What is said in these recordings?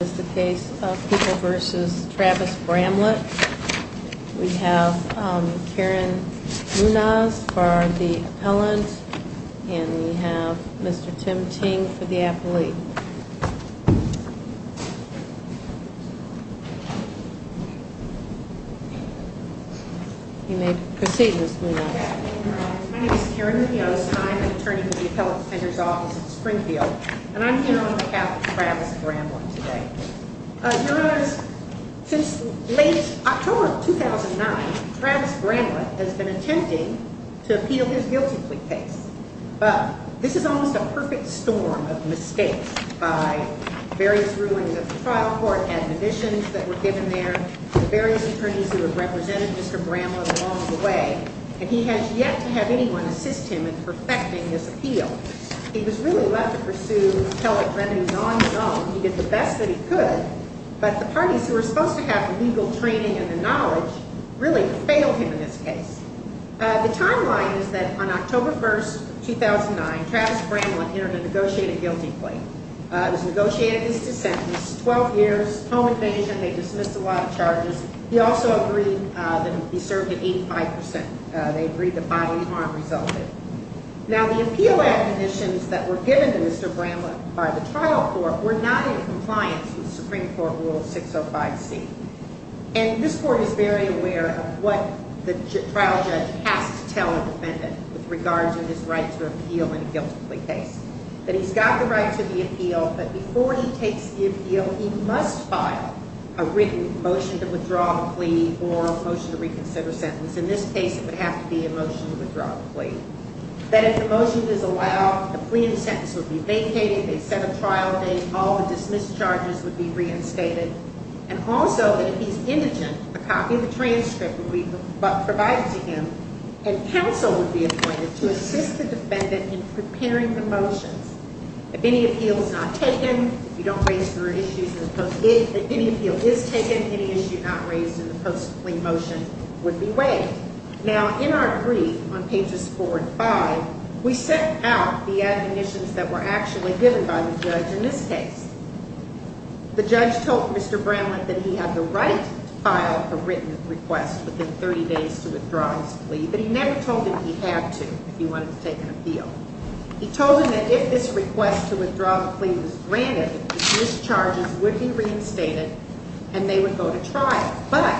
This is the case of People v. Travis Bramlett. We have Karen Munoz for the appellant, and we have Mr. Tim Ting for the appellee. You may proceed, Ms. Munoz. My name is Karen Munoz. I'm an attorney with the Appellate Defender's Office in Springfield, and I'm here on behalf of Travis Bramlett today. Your Honor, since late October of 2009, Travis Bramlett has been attempting to appeal his guilty plea case. But this is almost a perfect storm of mistakes by various rulings of the trial court, admonitions that were given there, the various attorneys who have represented Mr. Bramlett along the way, and he has yet to have anyone assist him in perfecting his appeal. He was really left to pursue appellate remedies on his own. He did the best that he could, but the parties who were supposed to have the legal training and the knowledge really failed him in this case. The timeline is that on October 1, 2009, Travis Bramlett entered a negotiated guilty plea. He was negotiated into sentence, 12 years, home invasion, they dismissed a lot of charges. He also agreed that he be served at 85 percent. They agreed that bodily harm resulted. Now, the appeal admonitions that were given to Mr. Bramlett by the trial court were not in compliance with Supreme Court Rule 605C. And this court is very aware of what the trial judge has to tell a defendant with regards to his right to appeal in a guilty plea case, that he's got the right to the appeal, but before he takes the appeal, he must file a written motion to withdraw the plea or a motion to reconsider sentence. In this case, it would have to be a motion to withdraw the plea. That if the motion is allowed, the plea and sentence would be vacated, they set a trial date, all the dismissed charges would be reinstated, and also that if he's indigent, a copy of the transcript would be provided to him, and counsel would be appointed to assist the defendant in preparing the motions. If any appeal is not taken, if you don't raise your issues, if any appeal is taken, any issue not raised in the post-plea motion would be waived. Now, in our brief on pages four and five, we set out the admonitions that were actually given by the judge in this case. The judge told Mr. Bramlett that he had the right to file a written request within 30 days to withdraw his plea, but he never told him he had to if he wanted to take an appeal. He told him that if this request to withdraw the plea was granted, the discharges would be reinstated, and they would go to trial. But,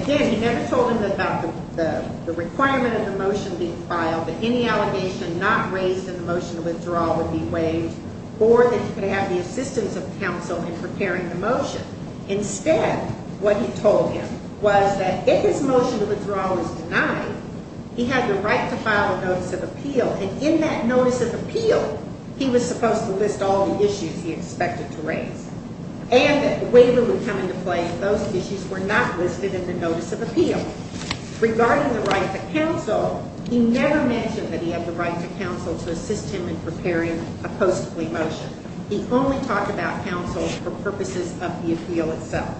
again, he never told him about the requirement of the motion being filed, that any allegation not raised in the motion to withdraw would be waived, or that he could have the assistance of counsel in preparing the motion. Instead, what he told him was that if his motion to withdraw was denied, he had the right to file a notice of appeal, and in that notice of appeal, he was supposed to list all the issues he expected to raise, and that the waiver would come into play if those issues were not listed in the notice of appeal. Regarding the right to counsel, he never mentioned that he had the right to counsel to assist him in preparing a postplea motion. He only talked about counsel for purposes of the appeal itself.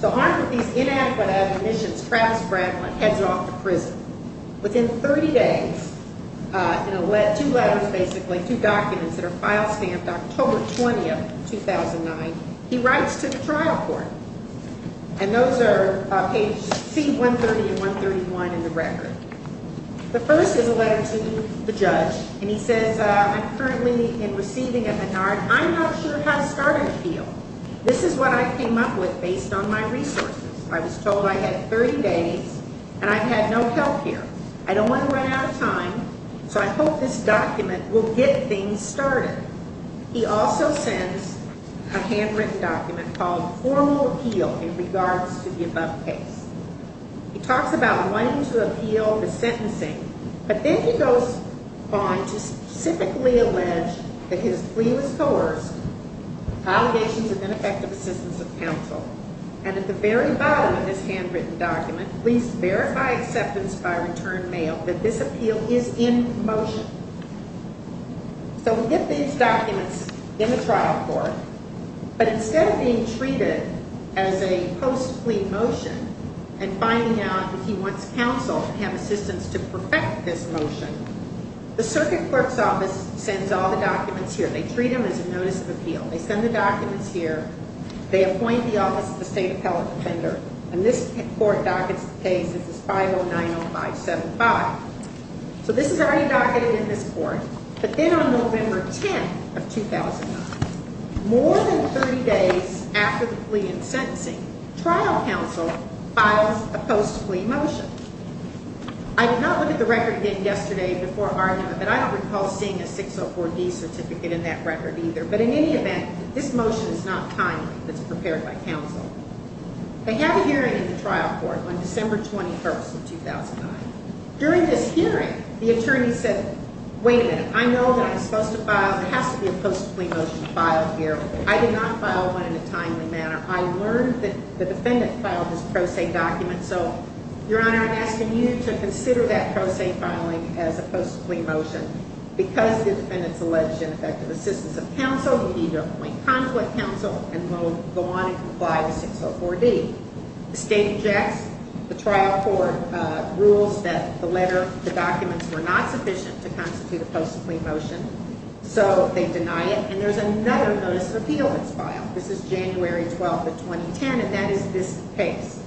So armed with these inadequate admonitions, Travis Bramlett heads off to prison. Within 30 days, in two letters, basically, two documents that are file-stamped, October 20, 2009, he writes to the trial court. And those are pages C-130 and 131 in the record. The first is a letter to the judge, and he says, I'm currently in receiving a Henard. I'm not sure how to start an appeal. This is what I came up with based on my resources. I was told I had 30 days, and I've had no help here. I don't want to run out of time, so I hope this document will get things started. He also sends a handwritten document called formal appeal in regards to the above case. He talks about wanting to appeal the sentencing, but then he goes on to specifically allege that his plea was coerced, allegations of ineffective assistance of counsel. And at the very bottom of this handwritten document, please verify acceptance by return mail that this appeal is in motion. So we get these documents in the trial court, but instead of being treated as a post-plea motion and finding out that he wants counsel to have assistance to perfect this motion, the circuit clerk's office sends all the documents here. They treat them as a notice of appeal. They send the documents here. They appoint the office of the state appellate defender, and this court dockets the case. This is 5090575. So this is already docketed in this court. But then on November 10th of 2009, more than 30 days after the plea and sentencing, trial counsel files a post-plea motion. I did not look at the record again yesterday before argument, but I don't recall seeing a 604D certificate in that record either. But in any event, this motion is not timely. It's prepared by counsel. I had a hearing in the trial court on December 21st of 2009. During this hearing, the attorney said, wait a minute, I know that I'm supposed to file, there has to be a post-plea motion filed here. I did not file one in a timely manner. I learned that the defendant filed his pro se document, so, Your Honor, I'm asking you to consider that pro se filing as a post-plea motion. Because the defendant's alleged ineffective assistance of counsel, we need to appoint conflict counsel, and we'll go on and comply with 604D. The state objects. The trial court rules that the letter, the documents were not sufficient to constitute a post-plea motion, so they deny it. And there's another notice of appeal that's filed. This is January 12th of 2010, and that is this case.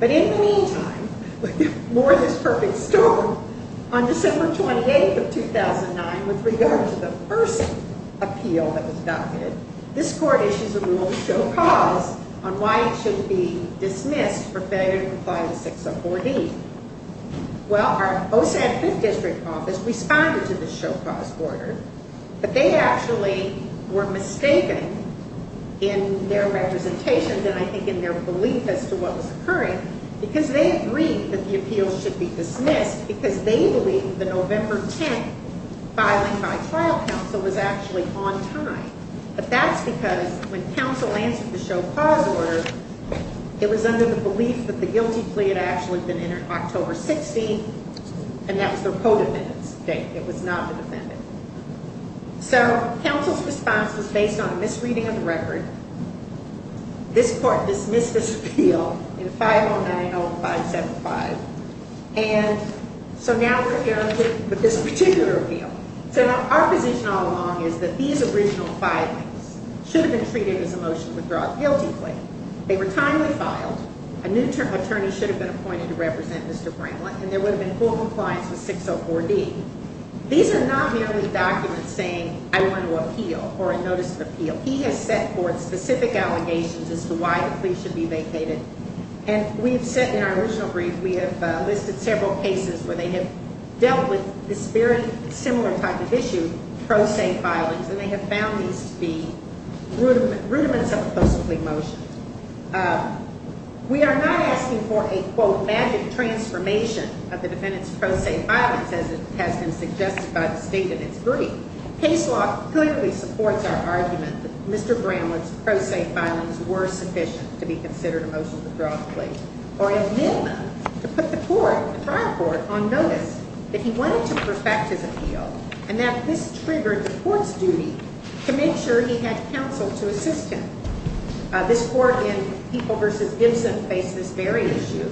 But in the meantime, more of this perfect storm, on December 28th of 2009, with regard to the first appeal that was documented, this court issues a rule to show cause on why it should be dismissed for failure to comply with 604D. Well, our OSAD 5th district office responded to the show cause order, but they actually were mistaken in their representation, and I think in their belief as to what was occurring, because they agreed that the appeal should be dismissed, because they believed the November 10th filing by trial counsel was actually on time. But that's because when counsel answered the show cause order, it was under the belief that the guilty plea had actually been entered October 16th, and that was their co-defendant's date. It was not the defendant. So counsel's response was based on a misreading of the record. This court dismissed this appeal in 5090575. And so now we're here with this particular appeal. So now our position all along is that these original filings should have been treated as a motion to withdraw a guilty plea. They were timely filed. A new attorney should have been appointed to represent Mr. Bramlin, and there would have been full compliance with 604D. These are not merely documents saying I want to appeal or a notice of appeal. He has set forth specific allegations as to why the plea should be vacated, and we have set in our original brief, we have listed several cases where they have dealt with this very similar type of issue, pro se filings, and they have found these to be rudiments of a post-plea motion. We are not asking for a, quote, magic transformation of the defendant's pro se filings as has been suggested by the State in its brief. Case law clearly supports our argument that Mr. Bramlin's pro se filings were sufficient to be considered a motion to withdraw a plea, or amend them to put the court, the trial court, on notice that he wanted to perfect his appeal and that this triggered the court's duty to make sure he had counsel to assist him. This court in People v. Gibson faced this very issue.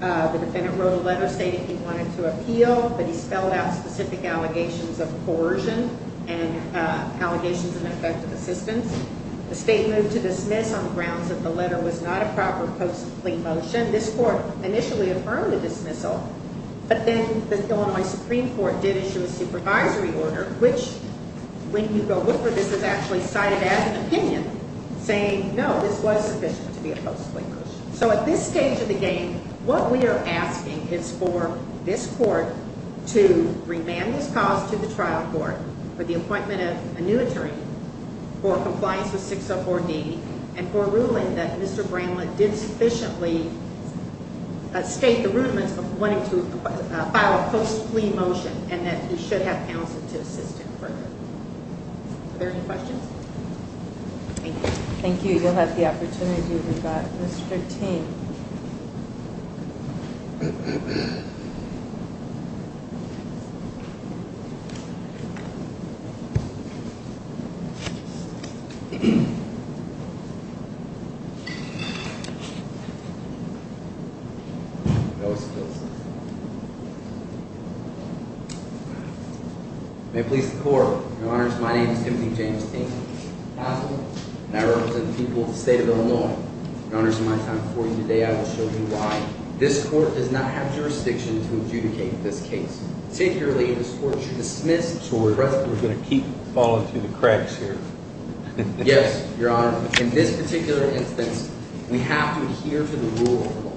The defendant wrote a letter stating he wanted to appeal, but he spelled out specific allegations of coercion and allegations of ineffective assistance. The State moved to dismiss on the grounds that the letter was not a proper post-plea motion. This court initially affirmed the dismissal, but then the Illinois Supreme Court did issue a supervisory order, which, when you go look for this, is actually cited as an opinion, saying no, this was sufficient to be a post-plea motion. So at this stage of the game, what we are asking is for this court to remand this cause to the trial court for the appointment of a new attorney, for compliance with 604D, and for a ruling that Mr. Bramlin did sufficiently state the rudiments of wanting to file a post-plea motion and that he should have counsel to assist him further. Are there any questions? Thank you. Thank you. You'll have the opportunity with that. Mr. Ting. May it please the court. Your Honor, my name is Timothy James Ting. I'm a counsel, and I represent the people of the state of Illinois. Your Honor, in my time before you today, I will show you why this court does not have jurisdiction to adjudicate this case. Particularly, this court should dismiss. So we're going to keep following through the cracks here. Yes, Your Honor. In this particular instance, we have to adhere to the rule of law.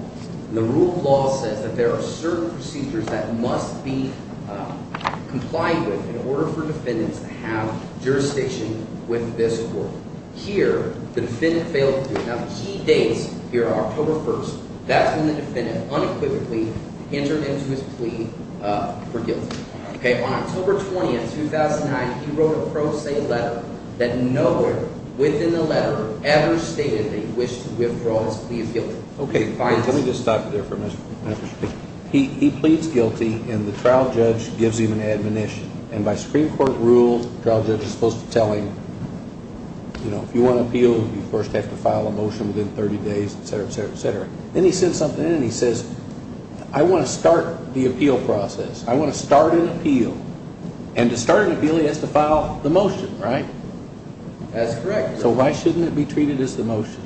jurisdiction with this court. Here, the defendant failed to do it. Now, the key dates here are October 1st. That's when the defendant unequivocally entered into his plea for guilt. On October 20th, 2009, he wrote a pro se letter that nowhere within the letter ever stated that he wished to withdraw his plea of guilt. Let me just stop you there for a minute. He pleads guilty, and the trial judge gives him an admonition. And by Supreme Court rules, the trial judge is supposed to tell him, you know, if you want to appeal, you first have to file a motion within 30 days, etc., etc., etc. Then he sends something in, and he says, I want to start the appeal process. I want to start an appeal. And to start an appeal, he has to file the motion, right? That's correct. So why shouldn't it be treated as the motion?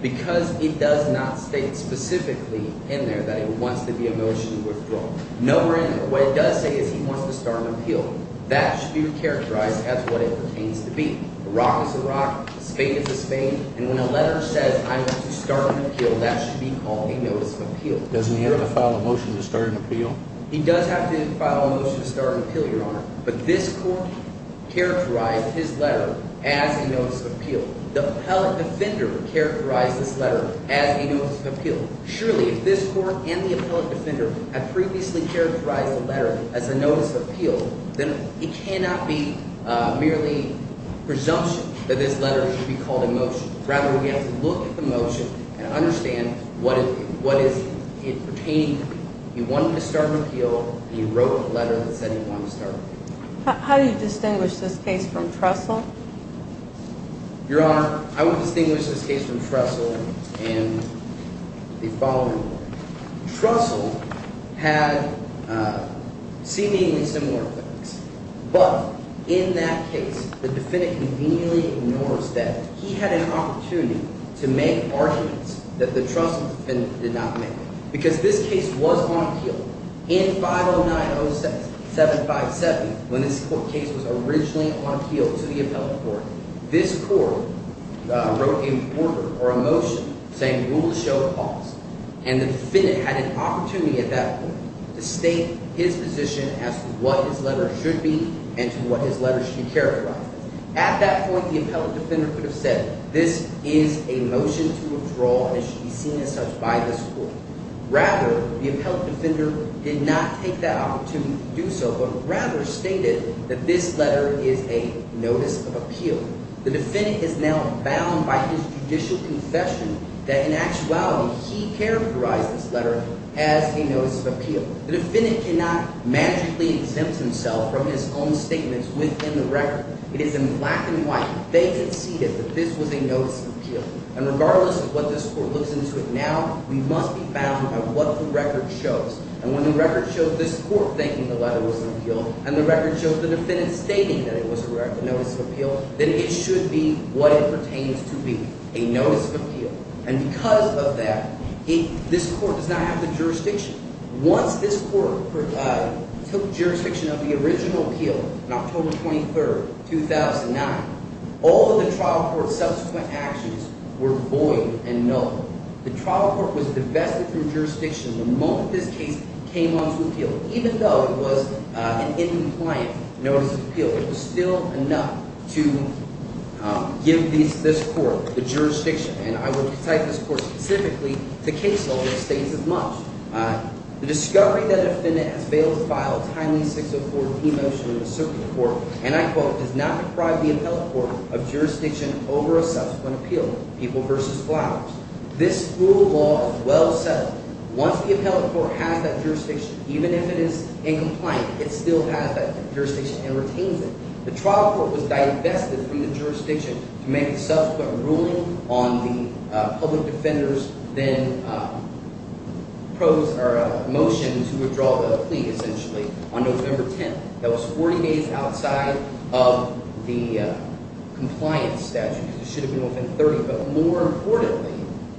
Because he does not state specifically in there that he wants to be a motion to withdraw. Nowhere in there. What it does say is he wants to start an appeal. That should be characterized as what it pertains to be. A rock is a rock. A spade is a spade. And when a letter says, I want to start an appeal, that should be called a notice of appeal. Doesn't he have to file a motion to start an appeal? He does have to file a motion to start an appeal, Your Honor. But this court characterized his letter as a notice of appeal. The appellate defender characterized this letter as a notice of appeal. Surely, if this court and the appellate defender have previously characterized the letter as a notice of appeal, then it cannot be merely presumption that this letter should be called a motion. Rather, we have to look at the motion and understand what is it pertaining to. He wanted to start an appeal, and he wrote a letter that said he wanted to start an appeal. How do you distinguish this case from Trestle? Your Honor, I would distinguish this case from Trestle. And the following one. Trestle had seemingly similar claims. But in that case, the defendant conveniently ignores that. He had an opportunity to make arguments that the Trestle defendant did not make. Because this case was on appeal. In 50906-7570, when this court case was originally on appeal to the appellate court, this court wrote a order or a motion saying rules show cause. And the defendant had an opportunity at that point to state his position as to what his letter should be and to what his letter should be characterized. At that point, the appellate defender could have said this is a motion to withdraw and it should be seen as such by this court. Rather, the appellate defender did not take that opportunity to do so, but rather stated that this letter is a notice of appeal. The defendant is now bound by his judicial confession that in actuality he characterized this letter as a notice of appeal. The defendant cannot magically exempt himself from his own statements within the record. It is in black and white. They conceded that this was a notice of appeal. And regardless of what this court looks into it now, we must be bound by what the record shows. And when the record shows this court thinking the letter was an appeal and the record shows the defendant stating that it was a notice of appeal, then it should be what it pertains to be, a notice of appeal. And because of that, this court does not have the jurisdiction. Once this court took jurisdiction of the original appeal on October 23, 2009, all of the trial court's subsequent actions were void and null. The trial court was divested from jurisdiction the moment this case came onto appeal, even though it was an incompliant notice of appeal. It was still enough to give this court the jurisdiction. And I would cite this court specifically to case law that states as much. The discovery that a defendant has failed to file a timely 604D motion in the circuit court, and I quote, does not deprive the appellate court of jurisdiction over a subsequent appeal, People v. Flowers. This rule of law is well settled. Once the appellate court has that jurisdiction, even if it is incompliant, it still has that jurisdiction and retains it. The trial court was divested from the jurisdiction to make a subsequent ruling on the public defender's then motion to withdraw the plea, essentially, on November 10. That was 40 days outside of the compliance statute. It should have been within 30, but more importantly,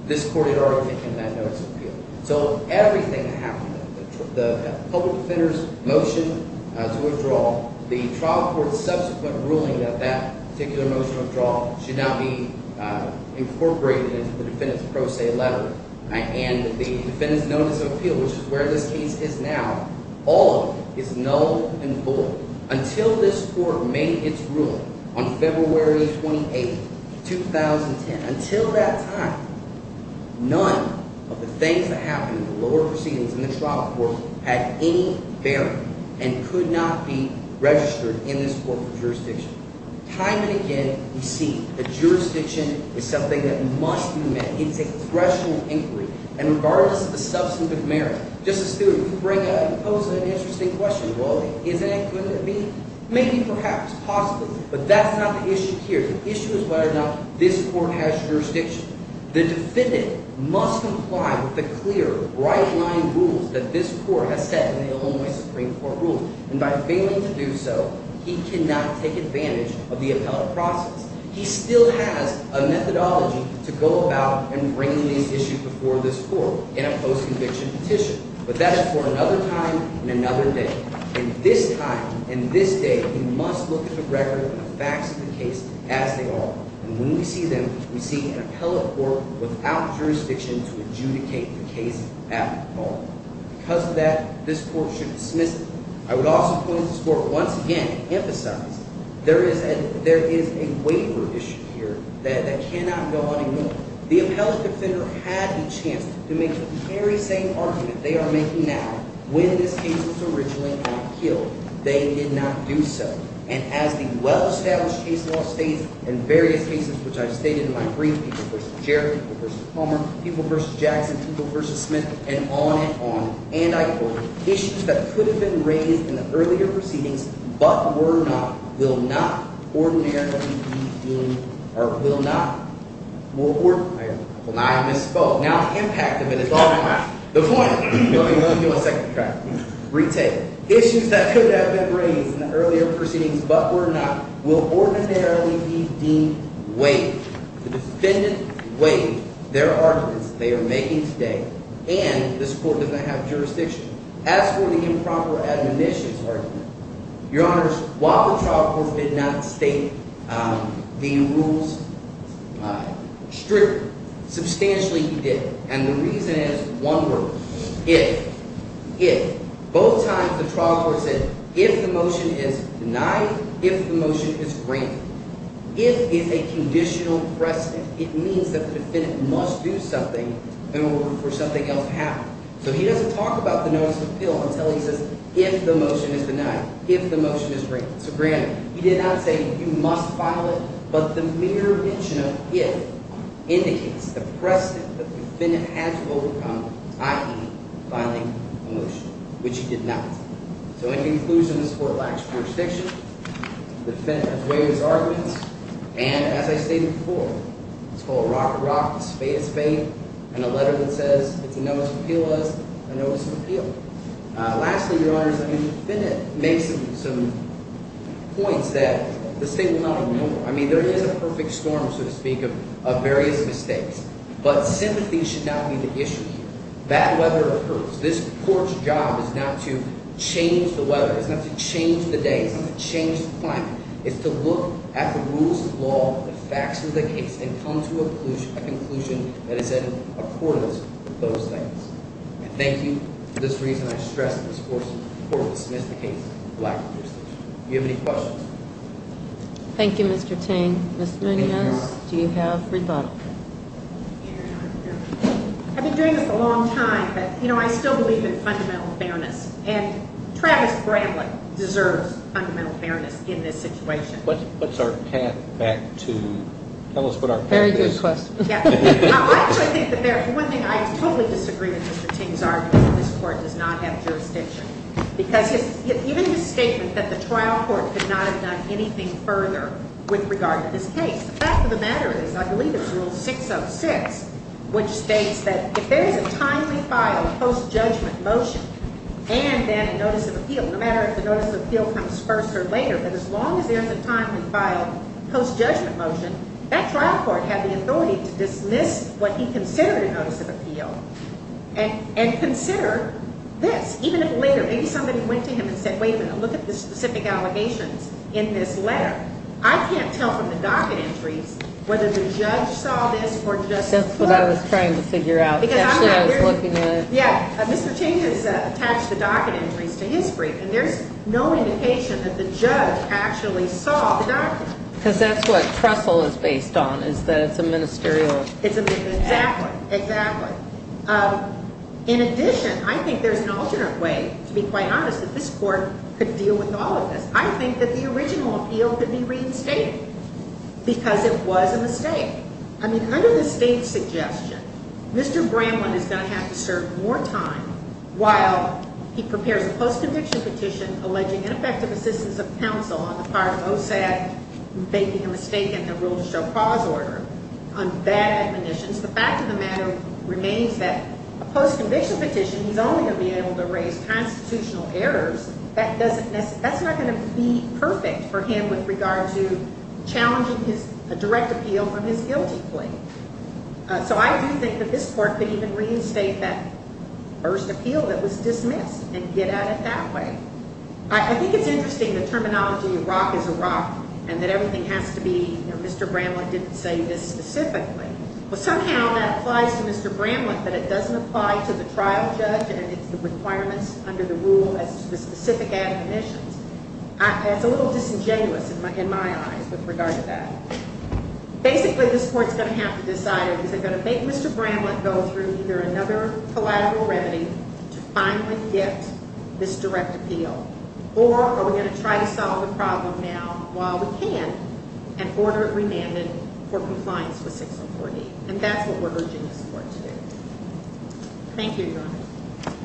this court had already taken that notice of appeal. So everything happened. The public defender's motion to withdraw, the trial court's subsequent ruling that that particular motion of withdrawal should not be incorporated into the defendant's pro se letter. And the defendant's notice of appeal, which is where this case is now, all of it is null and void until this court made its ruling on February 28, 2010. Until that time, none of the things that happened in the lower proceedings in the trial court had any bearing and could not be registered in this court for jurisdiction. Time and again, we see that jurisdiction is something that must be met. It's a threshold inquiry. And regardless of the substantive merit, Justice Stewart, you pose an interesting question. Well, isn't it good to be? Maybe, perhaps, possibly, but that's not the issue here. The issue is whether or not this court has jurisdiction. The defendant must comply with the clear, right-line rules that this court has set in the Illinois Supreme Court rules. And by failing to do so, he cannot take advantage of the appellate process. He still has a methodology to go about and bring these issues before this court in a post-conviction petition. But that is for another time and another day. And this time and this day, we must look at the record and the facts of the case as they are. And when we see them, we see an appellate court without jurisdiction to adjudicate the case at all. Because of that, this court should dismiss it. I would also point this court once again to emphasize there is a waiver issue here that cannot go on anymore. The appellate defender had the chance to make the very same argument they are making now when this case was originally not killed. They did not do so. And as the well-established case law states in various cases, which I've stated in my brief, people v. Jarrett, people v. Palmer, people v. Jackson, people v. Smith, and on and on, and I quote, Issues that could have been raised in the earlier proceedings, but were not, will not ordinarily be deemed, will not. I misspoke. Now, the impact of it is on my mind. The point, let me give you a second track. Retake. Issues that could have been raised in the earlier proceedings, but were not, will ordinarily be deemed waived. The defendant waived their arguments they are making today, and this court does not have jurisdiction. As for the improper admonitions argument, Your Honors, while the trial court did not state the rules strictly, substantially he did. And the reason is one word, if. If. Both times the trial court said if the motion is denied, if the motion is granted. If is a conditional precedent. It means that the defendant must do something in order for something else to happen. So he doesn't talk about the notice of appeal until he says if the motion is denied, if the motion is granted. So granted, he did not say you must file it, but the mere mention of if indicates the precedent that the defendant has overcome, i.e. filing a motion, which he did not. So in conclusion, this court lacks jurisdiction. The defendant has waived his arguments. And as I stated before, it's called rock, a rock, a spade, a spade. And a letter that says if you notice of appeal was a notice of appeal. Lastly, Your Honors, the defendant makes some points that the state will not ignore. I mean, there is a perfect storm, so to speak, of various mistakes. But sympathy should not be the issue here. Bad weather occurs. This court's job is not to change the weather. It's not to change the day. It's not to change the climate. It's to look at the rules of law, the facts of the case, and come to a conclusion that is in accordance with those things. And thank you for this reason I stress in this court, to dismiss the case of lack of jurisdiction. Do you have any questions? Thank you, Mr. Ting. Ms. Munoz, do you have rebuttal? I've been doing this a long time, but, you know, I still believe in fundamental fairness. And Travis Bramlett deserves fundamental fairness in this situation. What's our path back to tell us what our path is? Very good question. I actually think that there's one thing I totally disagree with Mr. Ting's argument, that this court does not have jurisdiction. Because even his statement that the trial court could not have done anything further with regard to this case, the fact of the matter is I believe it's Rule 606, which states that if there is a timely filed post-judgment motion and then a notice of appeal, no matter if the notice of appeal comes first or later, but as long as there is a timely filed post-judgment motion, that trial court had the authority to dismiss what he considered a notice of appeal and consider this. Even if later, maybe somebody went to him and said, wait a minute, look at the specific allegations in this letter. I can't tell from the docket entries whether the judge saw this or just the court. That's what I was trying to figure out. Actually, I was looking at it. Yeah. Mr. Ting has attached the docket entries to his brief, and there's no indication that the judge actually saw the docket. Because that's what Trestle is based on, is that it's a ministerial. It's a ministerial. Exactly. Exactly. In addition, I think there's an alternate way, to be quite honest, that this court could deal with all of this. I think that the original appeal could be reinstated because it was a mistake. I mean, under the state's suggestion, Mr. Bramlin is going to have to serve more time while he prepares a post-conviction petition alleging ineffective assistance of counsel on the part of OSAD making a mistake in the rule to show clause order. On that definition, the fact of the matter remains that a post-conviction petition, he's only going to be able to raise constitutional errors. That's not going to be perfect for him with regard to challenging a direct appeal from his guilty plea. So I do think that this court could even reinstate that first appeal that was dismissed and get at it that way. I think it's interesting the terminology of rock is a rock and that everything has to be, you know, Mr. Bramlin didn't say this specifically. Well, somehow that applies to Mr. Bramlin, but it doesn't apply to the trial judge and its requirements under the rule as to the specific admonitions. It's a little disingenuous in my eyes with regard to that. Basically, this court's going to have to decide, is it going to make Mr. Bramlin go through either another collateral remedy to finally get this direct appeal, or are we going to try to solve the problem now while we can and order it remanded for compliance with 6048? And that's what we're urging this court to do. Thank you, Your Honor.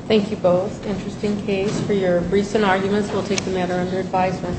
Thank you both. Interesting case. For your briefs and arguments, we'll take the matter under advisement.